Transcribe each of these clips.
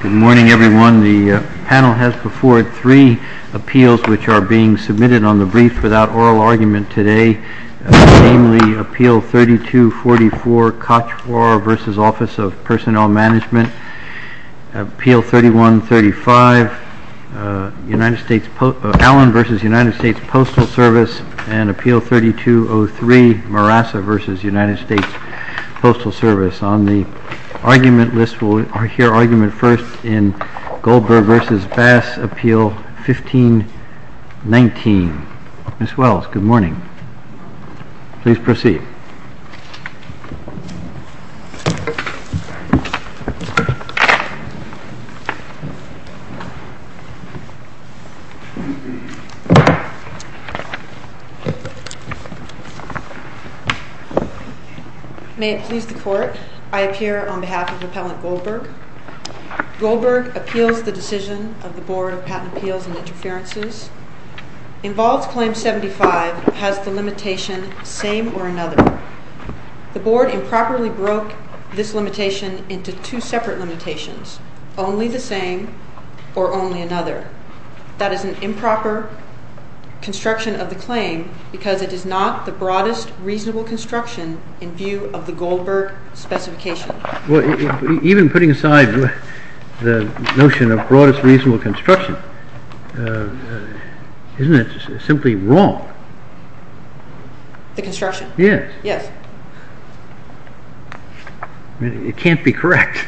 Good morning, everyone. The panel has before it three appeals which are being submitted on the brief without oral argument today, namely, Appeal 3244, Cotroir v. Office of Personnel Management, Appeal 3135, Allen v. United States Postal Service, and Appeal 3203, Marassa v. United States Postal Service. On the argument list, we'll hear argument first in Goldberg v. Bass, Appeal 1519. Ms. Wells, good morning. Please proceed. May it please the Court, I appear on behalf of Appellant Goldberg. Goldberg appeals the decision of the Board of Patent Appeals and Interferences. Involves Claim 75, has the Board improperly broke this limitation into two separate limitations, only the same or only another. That is an improper construction of the claim because it is not the broadest reasonable construction in view of the Goldberg specification. Well, even putting aside the notion of broadest reasonable construction, isn't it simply wrong? The construction? Yes. Yes. It can't be correct.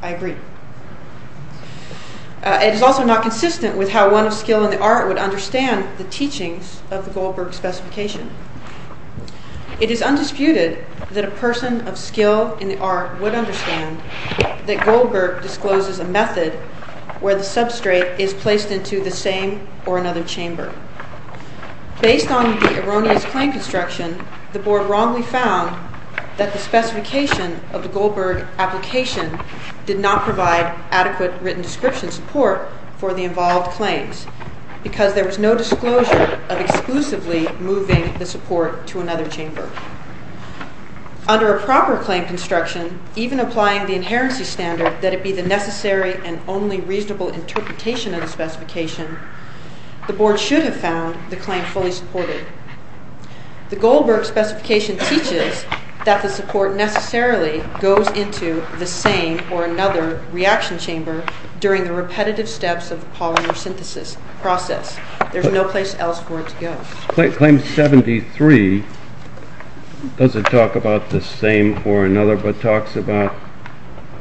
I agree. It is also not consistent with how one of skill in the art would understand the teachings of the Goldberg specification. It is undisputed that a person of skill in the art would understand that Goldberg discloses a method where the Based on the erroneous claim construction, the Board wrongly found that the specification of the Goldberg application did not provide adequate written description support for the involved claims because there was no disclosure of exclusively moving the support to another chamber. Under a proper claim construction, even applying the inherency standard that it be the necessary and only reasonable interpretation of the specification, the Board should have found the claim fully supported. The Goldberg specification teaches that the support necessarily goes into the same or another reaction chamber during the repetitive steps of the polymer synthesis process. There is no place else for it to go. Claim 73 doesn't talk about the same or another, but talks about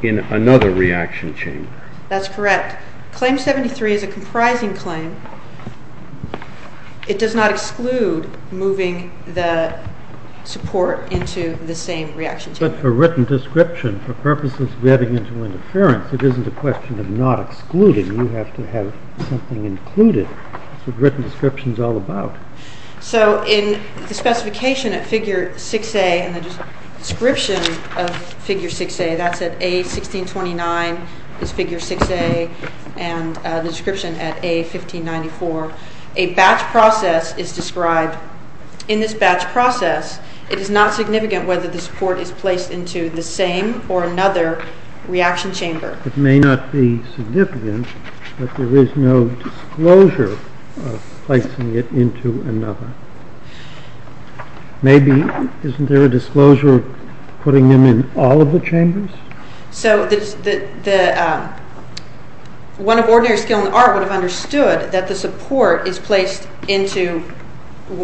in another reaction chamber. That's correct. Claim 73 is a comprising claim. It does not exclude moving the support into the same reaction chamber. But for written description, for purposes of getting into interference, it isn't a question of not excluding. You have to have something included. That's what written description is all about. So in the specification at figure 6A and the description of figure 6A, that's at A1629, is figure 6A, and the description at A1594, a batch process is described. In this batch process, it is not significant whether the support is placed into the same or another reaction chamber. It may not be significant, but there is no disclosure of placing it into another. Maybe, isn't there a disclosure of putting them in all of the chambers? One of ordinary skill in art would have understood that the support is placed into,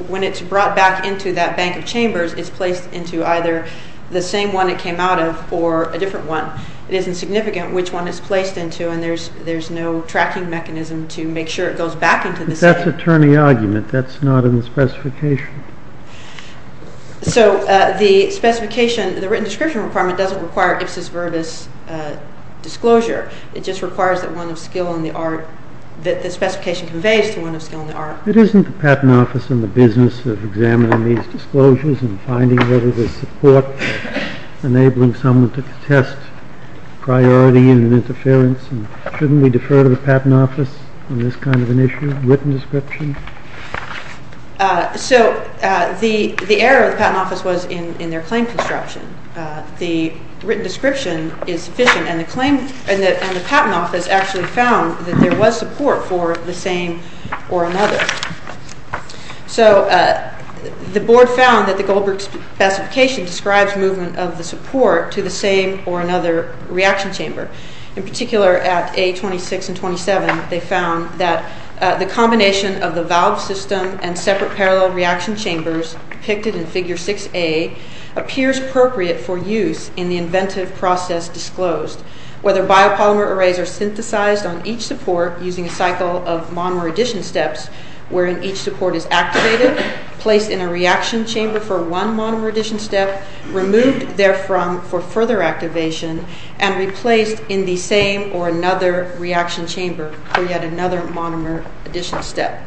when it's brought back into that bank of chambers, it's placed into either the same one it came out of or a different one. It isn't significant which one it's placed into, and there's no tracking mechanism to make sure it goes back into the same. But that's a turning argument. That's not in the specification. So the specification, the written description requirement doesn't require Ipsos-Virbis disclosure. It just requires that one of skill in the art, that the specification conveys to one of skill in the art. It isn't the Patent Office and the business of examining these disclosures and finding whether there's support, enabling someone to test priority and interference, and shouldn't we defer to the Patent Office on this kind of an issue, written description? So the error of the Patent Office was in their claim construction. The written description is sufficient, and the Patent Office actually found that there was support for the same or another. So the board found that the Goldberg specification describes movement of the support to the same or another reaction chamber, in particular at A26 and 27, they found that the combination of the valve system and separate parallel reaction chambers depicted in Figure 6A appears appropriate for use in the inventive process disclosed, whether biopolymer arrays are synthesized on each support using a cycle of monomer addition steps wherein each support is activated, placed in a reaction chamber for one monomer addition step, removed therefrom for further activation, and replaced in the same or another reaction chamber for yet another monomer addition step.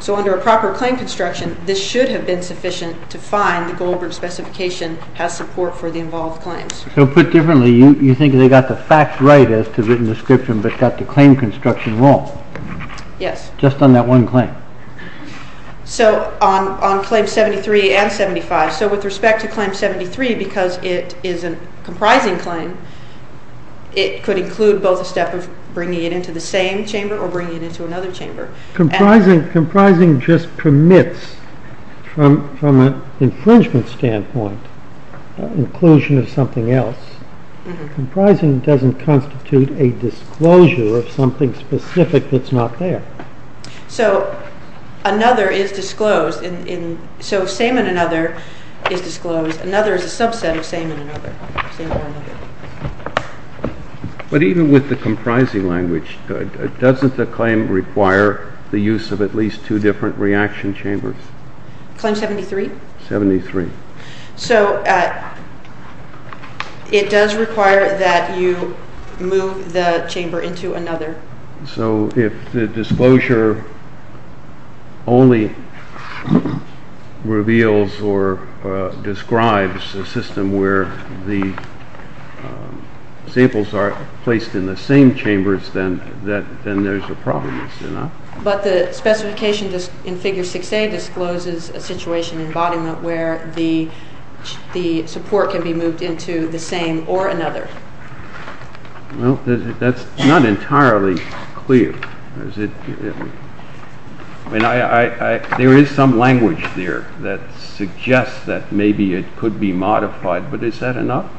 So under a proper claim construction, this should have been sufficient to find the Goldberg specification has support for the involved claims. So put differently, you think they got the facts right as to written description, but got the claim construction wrong? Yes. Just on that one claim? So on claim 73 and 75, so with respect to claim 73, because it is a comprising claim, it could include both a step of bringing it into the same chamber or bringing it into another chamber. Comprising just permits, from an infringement standpoint, inclusion of something else. Comprising doesn't constitute a disclosure of something specific that's not there. So another is disclosed, so same and another is disclosed. Another is a subset of same and another. But even with the comprising language, doesn't the claim require the use of at least two different reaction chambers? Claim 73? 73. So it does require that you move the chamber into another. So if the disclosure only reveals or describes a system where the samples are placed in the same chambers, then there's a problem. But the specification in figure 6A discloses a situation in embodiment where the support can be moved into the same or another. That's not entirely clear. There is some language there that suggests that maybe it could be modified, but is that enough?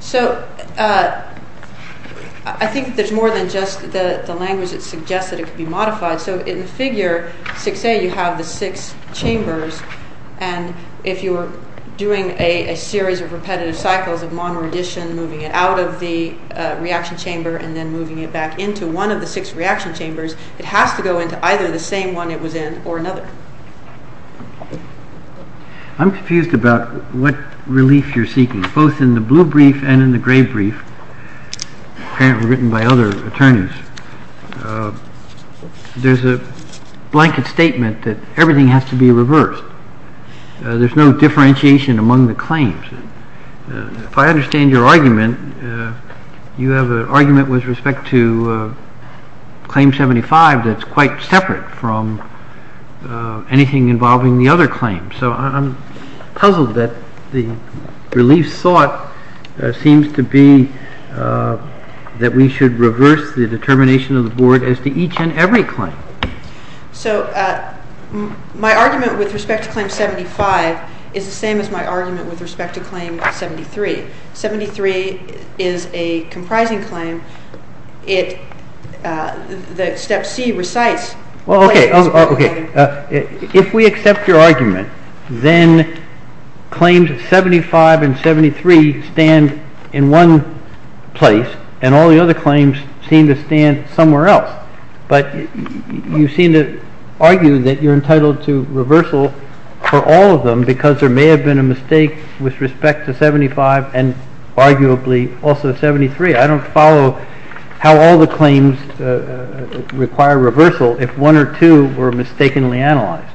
So I think there's more than just the language that suggests that it could be modified. So in figure 6A, you have the six chambers, and if you're doing a series of repetitive cycles of monoredition, moving it out of the reaction chamber and then moving it back into one of the six reaction chambers, it has to go into either the same one it was in or another. I'm confused about what relief you're seeking, both in the blue brief and in the gray brief, apparently written by other attorneys. There's a blanket statement that everything has to be reversed. There's no differentiation among the claims. If I understand your argument, you have an argument with respect to Claim 75 that's quite separate from anything involving the other claims. So I'm puzzled that the relief sought seems to be that we should reverse the determination of the Board as to each and every claim. So my argument with respect to Claim 75 is the same as my argument with respect to Claim 73. Seventy-three is a comprising claim. Step C recites what it is. Well, okay. If we accept your argument, then Claims 75 and 73 stand in one place, and all the other claims seem to stand somewhere else. But you seem to argue that you're entitled to reversal for all of them because there may have been a mistake with respect to 75 and arguably also 73. I don't follow how all the claims require reversal if one or two were mistakenly analyzed.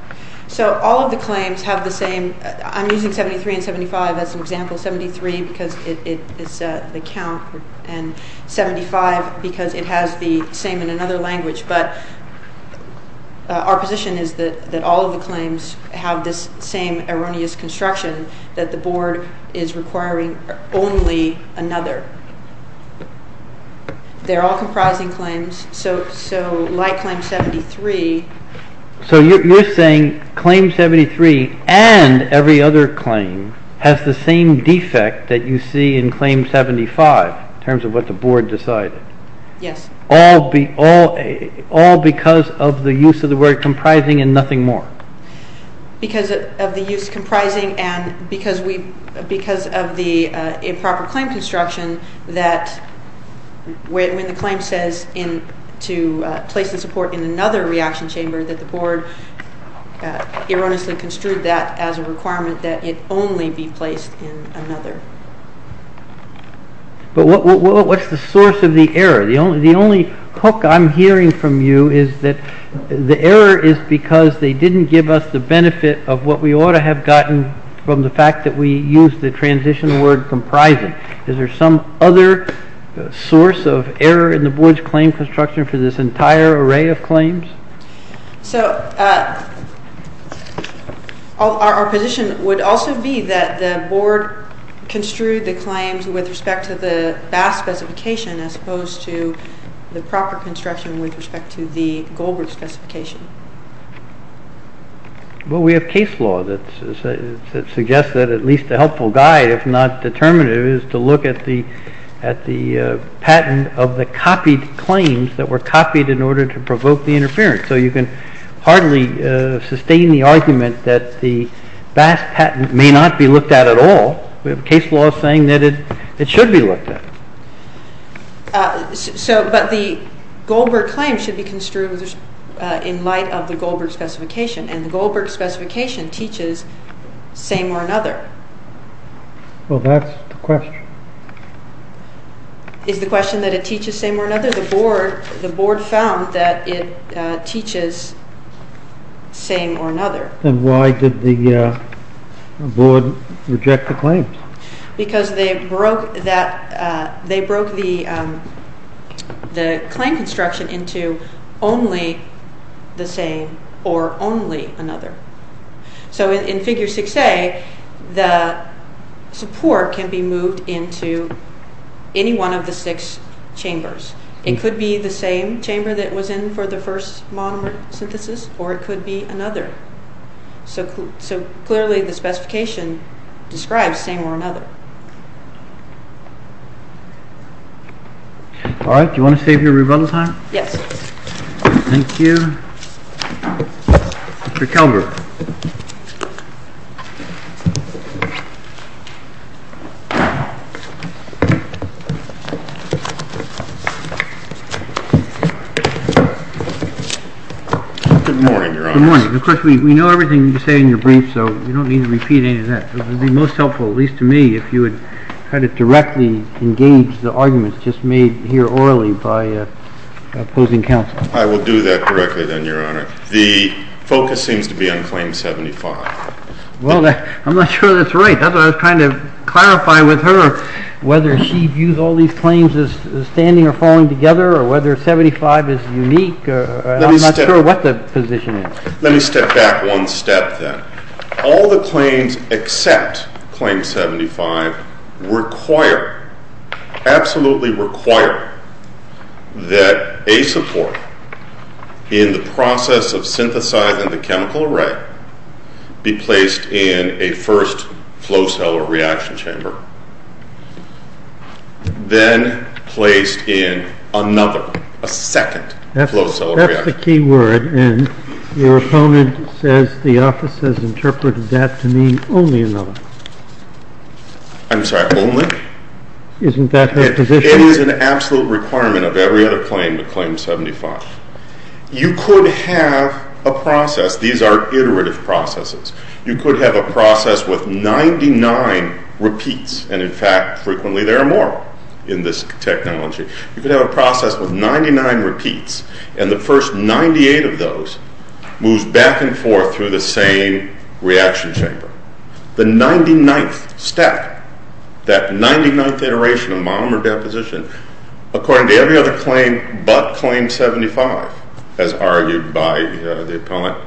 So all of the claims have the same... I'm using 73 and 75 as an example. 73 because it is the count, and 75 because it has the same in another language. But our position is that all of the claims have this same erroneous construction, that the Board is requiring only another. They're all comprising claims. So like Claim 73, the Board is requiring only 73. So you're saying Claim 73 and every other claim has the same defect that you see in Claim 75, in terms of what the Board decided, all because of the use of the word comprising and nothing more. Because of the use of comprising and because of the improper claim construction that when the claim says to place the support in another reaction chamber, that the Board erroneously construed that as a requirement that it only be placed in another. But what's the source of the error? The only hook I'm hearing from you is that the error is because they didn't give us the benefit of what we ought to have gotten from the fact that we used the transition word comprising. Is there some other source of error in the Board's claim construction for this entire array of claims? So our position would also be that the Board construed the claims with respect to the Bass specification as opposed to the proper construction with respect to the Goldbridge specification. Well, we have case law that suggests that at least a helpful guide, if not determinative, is to look at the patent of the copied claims that were copied in order to provoke the interference. So you can hardly sustain the argument that the Bass patent may not be looked at at all. We have case law saying that it should be looked at. But the Goldbridge claim should be construed in light of the Goldbridge specification, and the Goldbridge specification teaches same or another. Well, that's the question. Is the question that it teaches same or another? The Board found that it teaches same or another. Then why did the Board reject the claims? Because they broke the claim construction into only the same or only another. So in Figure 6a, the support can be moved into any one of the six chambers. It could be the same chamber that was in for the first monomer synthesis, or it could be another. So clearly, the specification describes same or another. All right. Do you want to save your rebuttal time? Yes. Thank you. Mr. Kelberg. Good morning, Your Honor. Good morning. Of course, we know everything you say in your brief, so we don't need to repeat any of that. It would be most helpful, at least to me, if you would kind of directly engage the arguments just made here orally by opposing counsel. I will do that directly, then, Your Honor. The focus seems to be on Claim 75. Well, I'm not sure that's right. That's what I was trying to clarify with her, whether she views all these claims as standing or falling together, or whether 75 is unique. I'm not sure what the position is. Let me step back one step, then. All the claims except Claim 75 require, absolutely require, that a support in the process of synthesizing the chemical array be placed in a first flow cell or reaction chamber, then placed in another, a second flow cell or reaction chamber. That's the key word, and your opponent says the office has interpreted that to mean only another. I'm sorry, only? Isn't that her position? It is an absolute requirement of every other claim with Claim 75. You could have a process. These are iterative processes. You could have a process with 99 repeats, and, in fact, frequently there are more in this technology. You could have a process with 99 repeats, and the first 98 of those moves back and forth through the same reaction chamber. The 99th step, that 99th iteration of monomer deposition, according to every other claim but Claim 75, as argued by the appellant,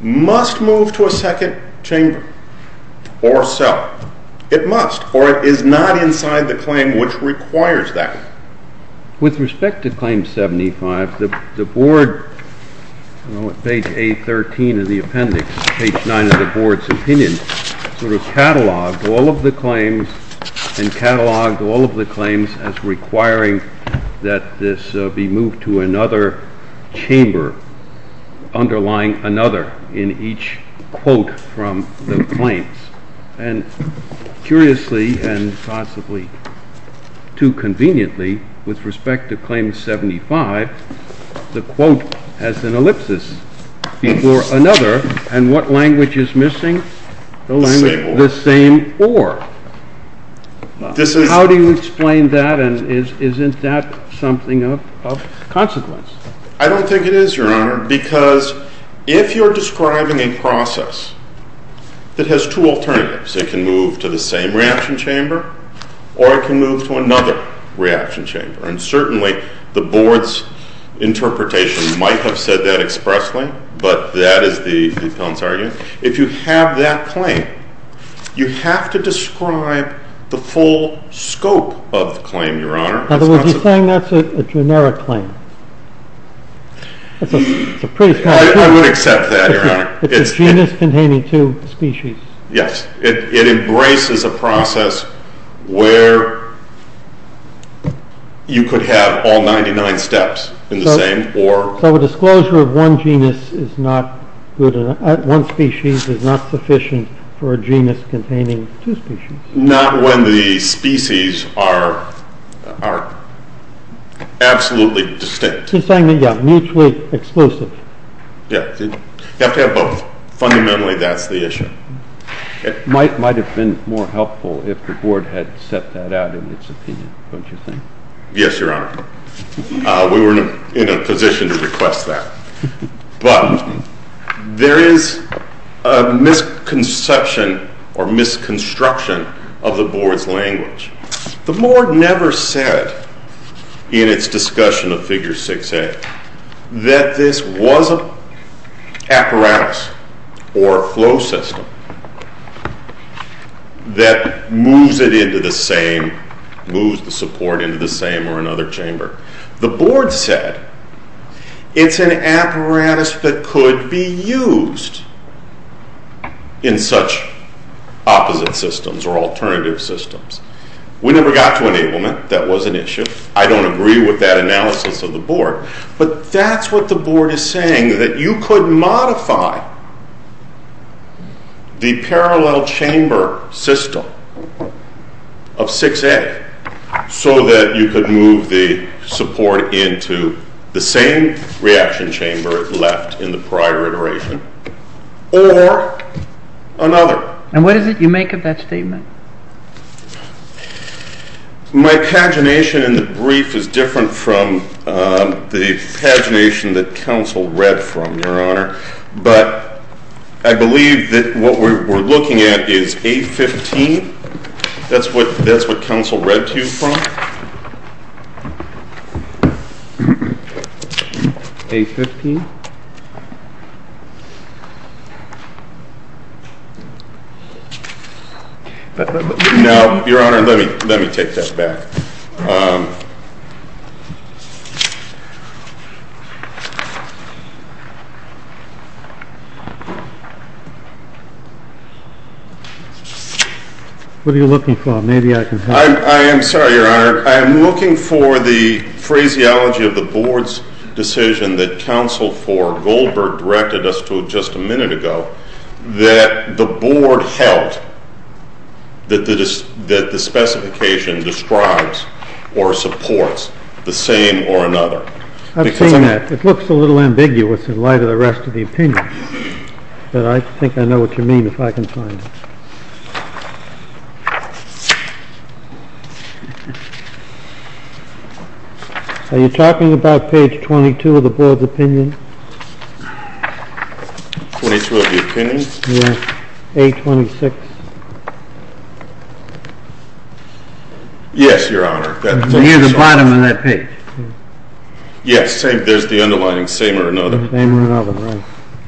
must move to a second chamber or cell. It must, or it is not inside the claim which requires that. With respect to Claim 75, the board, page 813 of the appendix, page 9 of the board's opinion, sort of cataloged all of the claims and cataloged all of the claims as requiring that this be moved to another chamber underlying another in each quote from the claims. And curiously and possibly too conveniently, with respect to Claim 75, the quote has an ellipsis before another, and what language is missing? The same or. The same or. How do you explain that, and isn't that something of consequence? I don't think it is, Your Honor, because if you're describing a process that has two alternatives, it can move to the same reaction chamber or it can move to another reaction chamber. And certainly the board's interpretation might have said that expressly, but that is the appellant's argument. If you have that claim, you have to describe the full scope of the claim, Your Honor. In other words, you're saying that's a generic claim. I would accept that, Your Honor. It's a genus containing two species. Yes. It embraces a process where you could have all 99 steps in the same or. So a disclosure of one genus is not good, one species is not sufficient for a genus containing two species. Not when the species are absolutely distinct. You're saying they're mutually exclusive. Yeah. You have to have both. Fundamentally, that's the issue. It might have been more helpful if the board had set that out in its opinion, don't you think? Yes, Your Honor. We were in a position to request that. But there is a misconception or misconstruction of the board's language. The board never said in its discussion of Figure 6a that this was an apparatus or a flow system that moves it into the same, moves the support into the same or another chamber. The board said it's an apparatus that could be used in such opposite systems or alternative systems. We never got to enablement. That was an issue. I don't agree with that analysis of the board. But that's what the board is saying, that you could modify the parallel chamber system of 6a, so that you could move the support into the same reaction chamber it left in the prior iteration or another. And what is it you make of that statement? My pagination in the brief is different from the pagination that counsel read from, Your Honor. But I believe that what we're looking at is 815. That's what counsel read to you from. 815? No, Your Honor. Let me take that back. What are you looking for? Maybe I can help you. I am sorry, Your Honor. I am looking for the phraseology of the board's decision that counsel read to you from. Counsel for Goldberg directed us to just a minute ago that the board held that the specification describes or supports the same or another. I've seen that. It looks a little ambiguous in light of the rest of the opinion. But I think I know what you mean if I can find it. Are you talking about page 22 of the board's opinion? 22 of the opinion? Yes. 826. Yes, Your Honor. Near the bottom of that page. Yes. There's the underlining same or another. Same or another. Right.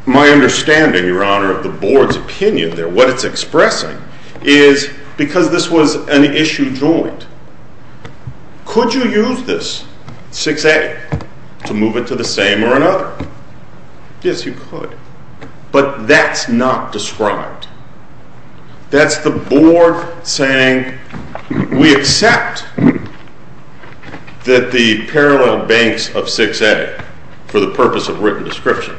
My understanding, Your Honor, of the board's opinion there, what it's expressing, is because this was an issue joint, could you use this 6A to move it to the same or another? Yes, you could. But that's not described. That's the board saying we accept that the parallel banks of 6A, for the purpose of written description,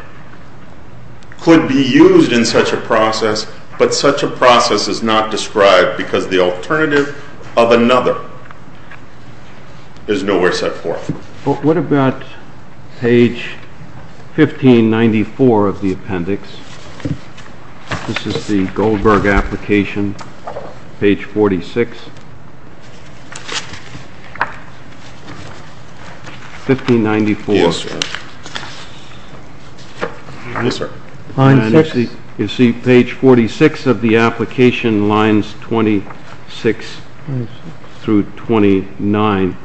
could be used in such a process, but such a process is not described because the alternative of another is nowhere set forth. What about page 1594 of the appendix? This is the Goldberg application, page 46. 1594. Yes, sir. Line 6. You see page 46 of the application, lines 26 through 29,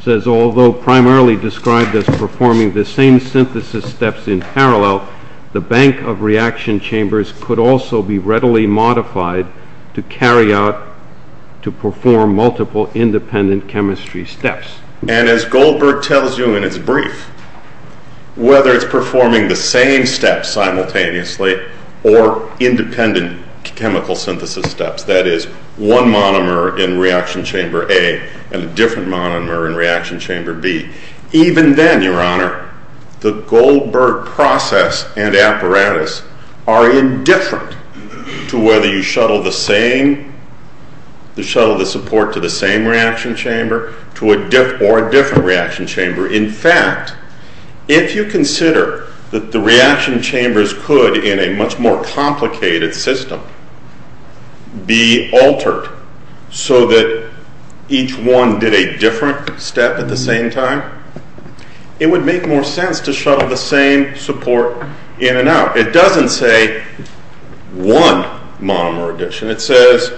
says, although primarily described as performing the same synthesis steps in parallel, the bank of reaction chambers could also be readily modified to carry out, to perform multiple independent chemistry steps. And as Goldberg tells you in his brief, whether it's performing the same steps simultaneously or independent chemical synthesis steps, that is, one monomer in reaction chamber A and a different monomer in reaction chamber B, even then, Your Honor, the Goldberg process and apparatus are indifferent to whether you shuttle the same, reaction chamber or a different reaction chamber. In fact, if you consider that the reaction chambers could, in a much more complicated system, be altered so that each one did a different step at the same time, it would make more sense to shuttle the same support in and out. It doesn't say one monomer addition. It says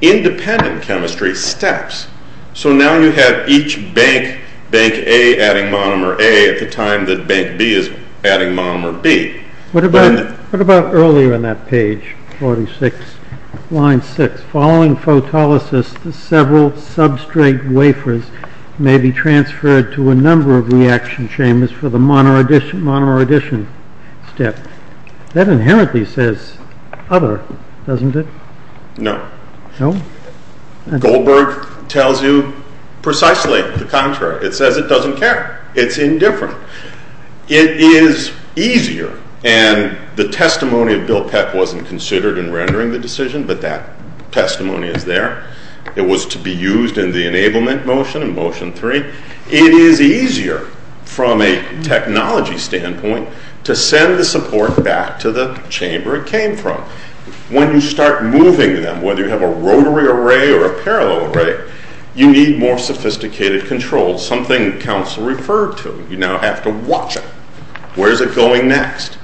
independent chemistry steps. So now you have each bank, bank A adding monomer A at the time that bank B is adding monomer B. What about earlier in that page, 46, line 6? Following photolysis, several substrate wafers may be transferred to a number of reaction chambers for the monomer addition step. That inherently says other, doesn't it? No. No? Goldberg tells you precisely the contrary. It says it doesn't care. It's indifferent. It is easier, and the testimony of Bill Peck wasn't considered in rendering the decision, but that testimony is there. It was to be used in the enablement motion in motion 3. It is easier from a technology standpoint to send the support back to the chamber it came from. When you start moving them, whether you have a rotary array or a parallel array, you need more sophisticated controls, something that counsel referred to. You now have to watch it. Where is it going next?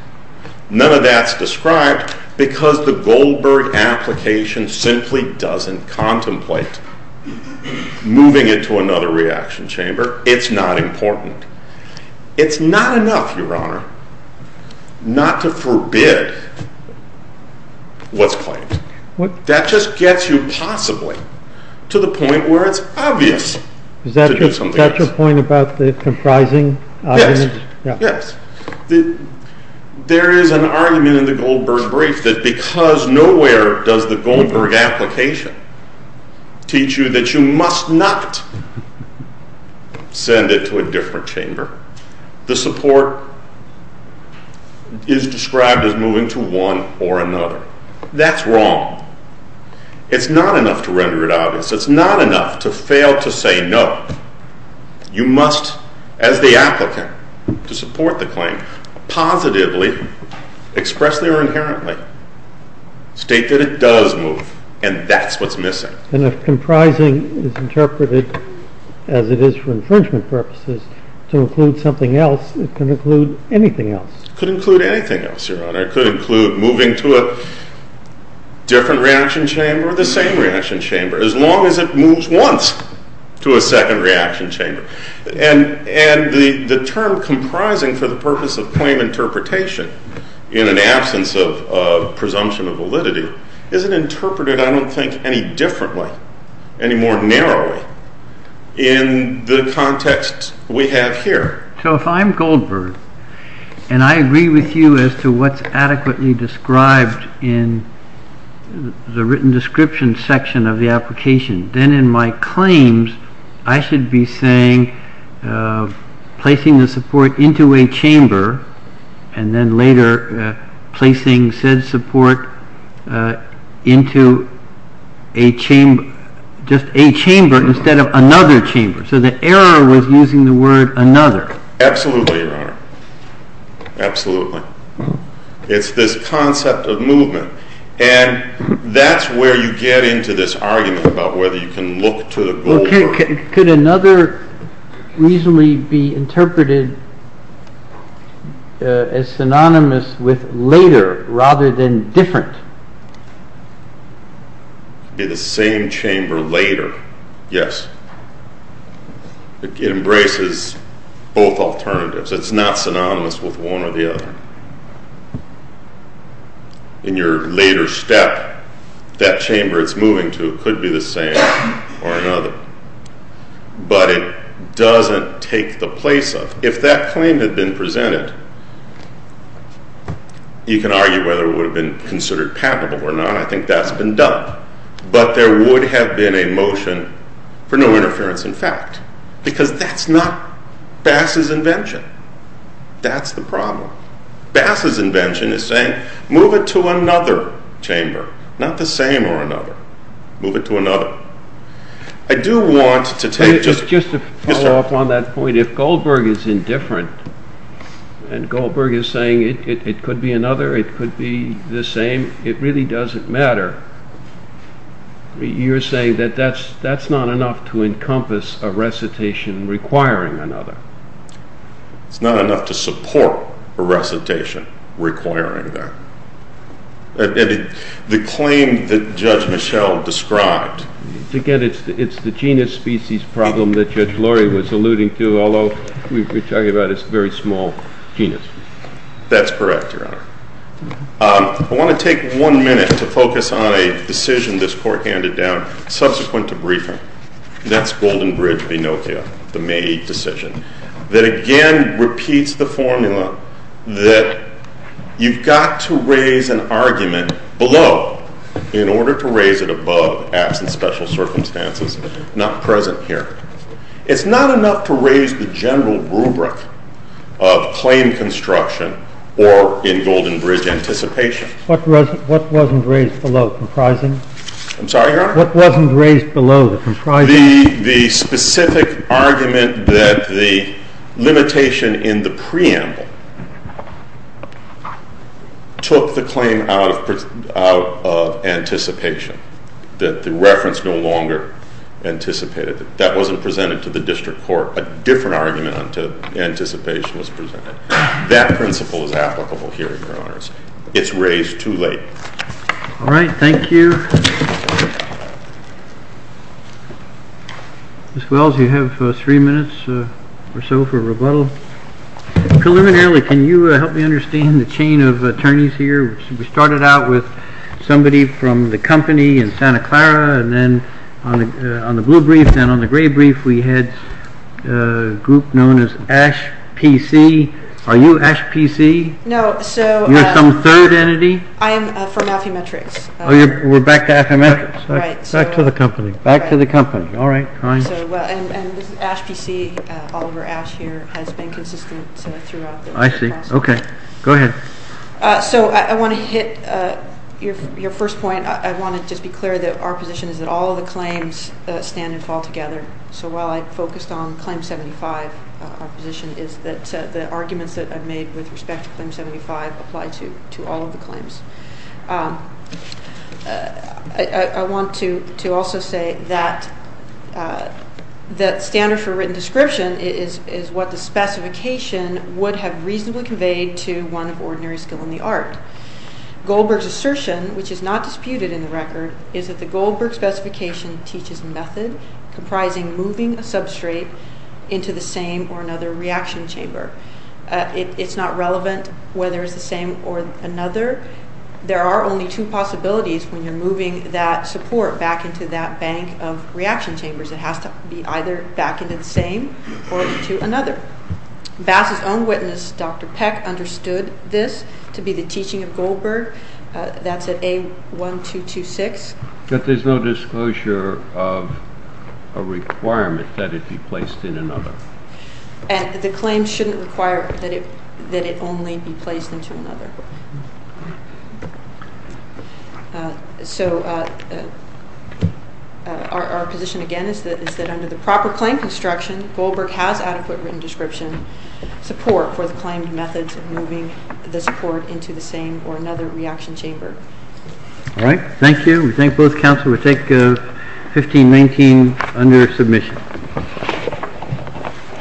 None of that's described because the Goldberg application simply doesn't contemplate moving it to another reaction chamber. It's not important. It's not enough, Your Honor, not to forbid what's claimed. That just gets you possibly to the point where it's obvious to do something else. Is that your point about the comprising argument? Yes. There is an argument in the Goldberg brief that because nowhere does the Goldberg application teach you that you must not send it to a different chamber, the support is described as moving to one or another. That's wrong. It's not enough to render it obvious. It's not enough to fail to say no. You must, as the applicant to support the claim, positively, expressly or inherently state that it does move, and that's what's missing. And if comprising is interpreted as it is for infringement purposes to include something else, it can include anything else. It could include anything else, Your Honor. It could include moving to a different reaction chamber or the same reaction chamber. As long as it moves once to a second reaction chamber. And the term comprising for the purpose of claim interpretation in an absence of presumption of validity isn't interpreted, I don't think, any differently, any more narrowly in the context we have here. So if I'm Goldberg and I agree with you as to what's adequately described in the written description section of the application, then in my claims I should be saying placing the support into a chamber and then later placing said support into a chamber, just a chamber instead of another chamber. So the error was using the word another. Absolutely, Your Honor. Absolutely. It's this concept of movement. And that's where you get into this argument about whether you can look to the Goldberg. Could another reasonably be interpreted as synonymous with later rather than different? Could it be the same chamber later? Yes. It embraces both alternatives. It's not synonymous with one or the other. In your later step, that chamber it's moving to could be the same or another. But it doesn't take the place of. If that claim had been presented, you can argue whether it would have been considered patentable or not. I think that's been done. But there would have been a motion for no interference in fact because that's not Bass's invention. That's the problem. Bass's invention is saying move it to another chamber, not the same or another. Move it to another. Just to follow up on that point, if Goldberg is indifferent and Goldberg is saying it could be another, it could be the same, it really doesn't matter. You're saying that that's not enough to encompass a recitation requiring another. It's not enough to support a recitation requiring that. The claim that Judge Michel described. Again, it's the genus species problem that Judge Laurie was alluding to, although we're talking about a very small genus. That's correct, Your Honor. I want to take one minute to focus on a decision this Court handed down subsequent to briefing. That's Goldenbridge v. Nokia, the May 8 decision. That again repeats the formula that you've got to raise an argument below in order to raise it above, absent special circumstances, not present here. It's not enough to raise the general rubric of claim construction or in Goldenbridge anticipation. What wasn't raised below comprising? I'm sorry, Your Honor? What wasn't raised below comprising? The specific argument that the limitation in the preamble took the claim out of anticipation, that the reference no longer anticipated. That wasn't presented to the District Court. A different argument to anticipation was presented. That principle is applicable here, Your Honors. It's raised too late. All right, thank you. Ms. Wells, you have three minutes or so for rebuttal. Preliminarily, can you help me understand the chain of attorneys here? We started out with somebody from the company in Santa Clara, and then on the blue brief, then on the gray brief, we had a group known as Ash PC. Are you Ash PC? No. You're some third entity? I am from Affymetrix. We're back to Affymetrix. Back to the company. All right. This is Ash PC. Oliver Ash here has been consistent throughout this process. I see. Okay. Go ahead. So I want to hit your first point. I want to just be clear that our position is that all of the claims stand and fall together. So while I focused on Claim 75, our position is that the arguments that I've made with respect to Claim 75 apply to all of the claims. I want to also say that the standard for written description is what the specification would have reasonably conveyed to one of ordinary skill in the art. Goldberg's assertion, which is not disputed in the record, is that the Goldberg specification teaches method comprising moving a substrate into the same or another reaction chamber. It's not relevant whether it's the same or another. There are only two possibilities when you're moving that support back into that bank of reaction chambers. It has to be either back into the same or into another. Bass's own witness, Dr. Peck, understood this to be the teaching of Goldberg. That's at A1226. But there's no disclosure of a requirement that it be placed in another. And the claim shouldn't require that it only be placed into another. So our position again is that under the proper claim construction, Goldberg has adequate written description support for the claimed methods of moving the support into the same or another reaction chamber. All right. Thank you. We thank both counsel. We'll take 1519 under submission.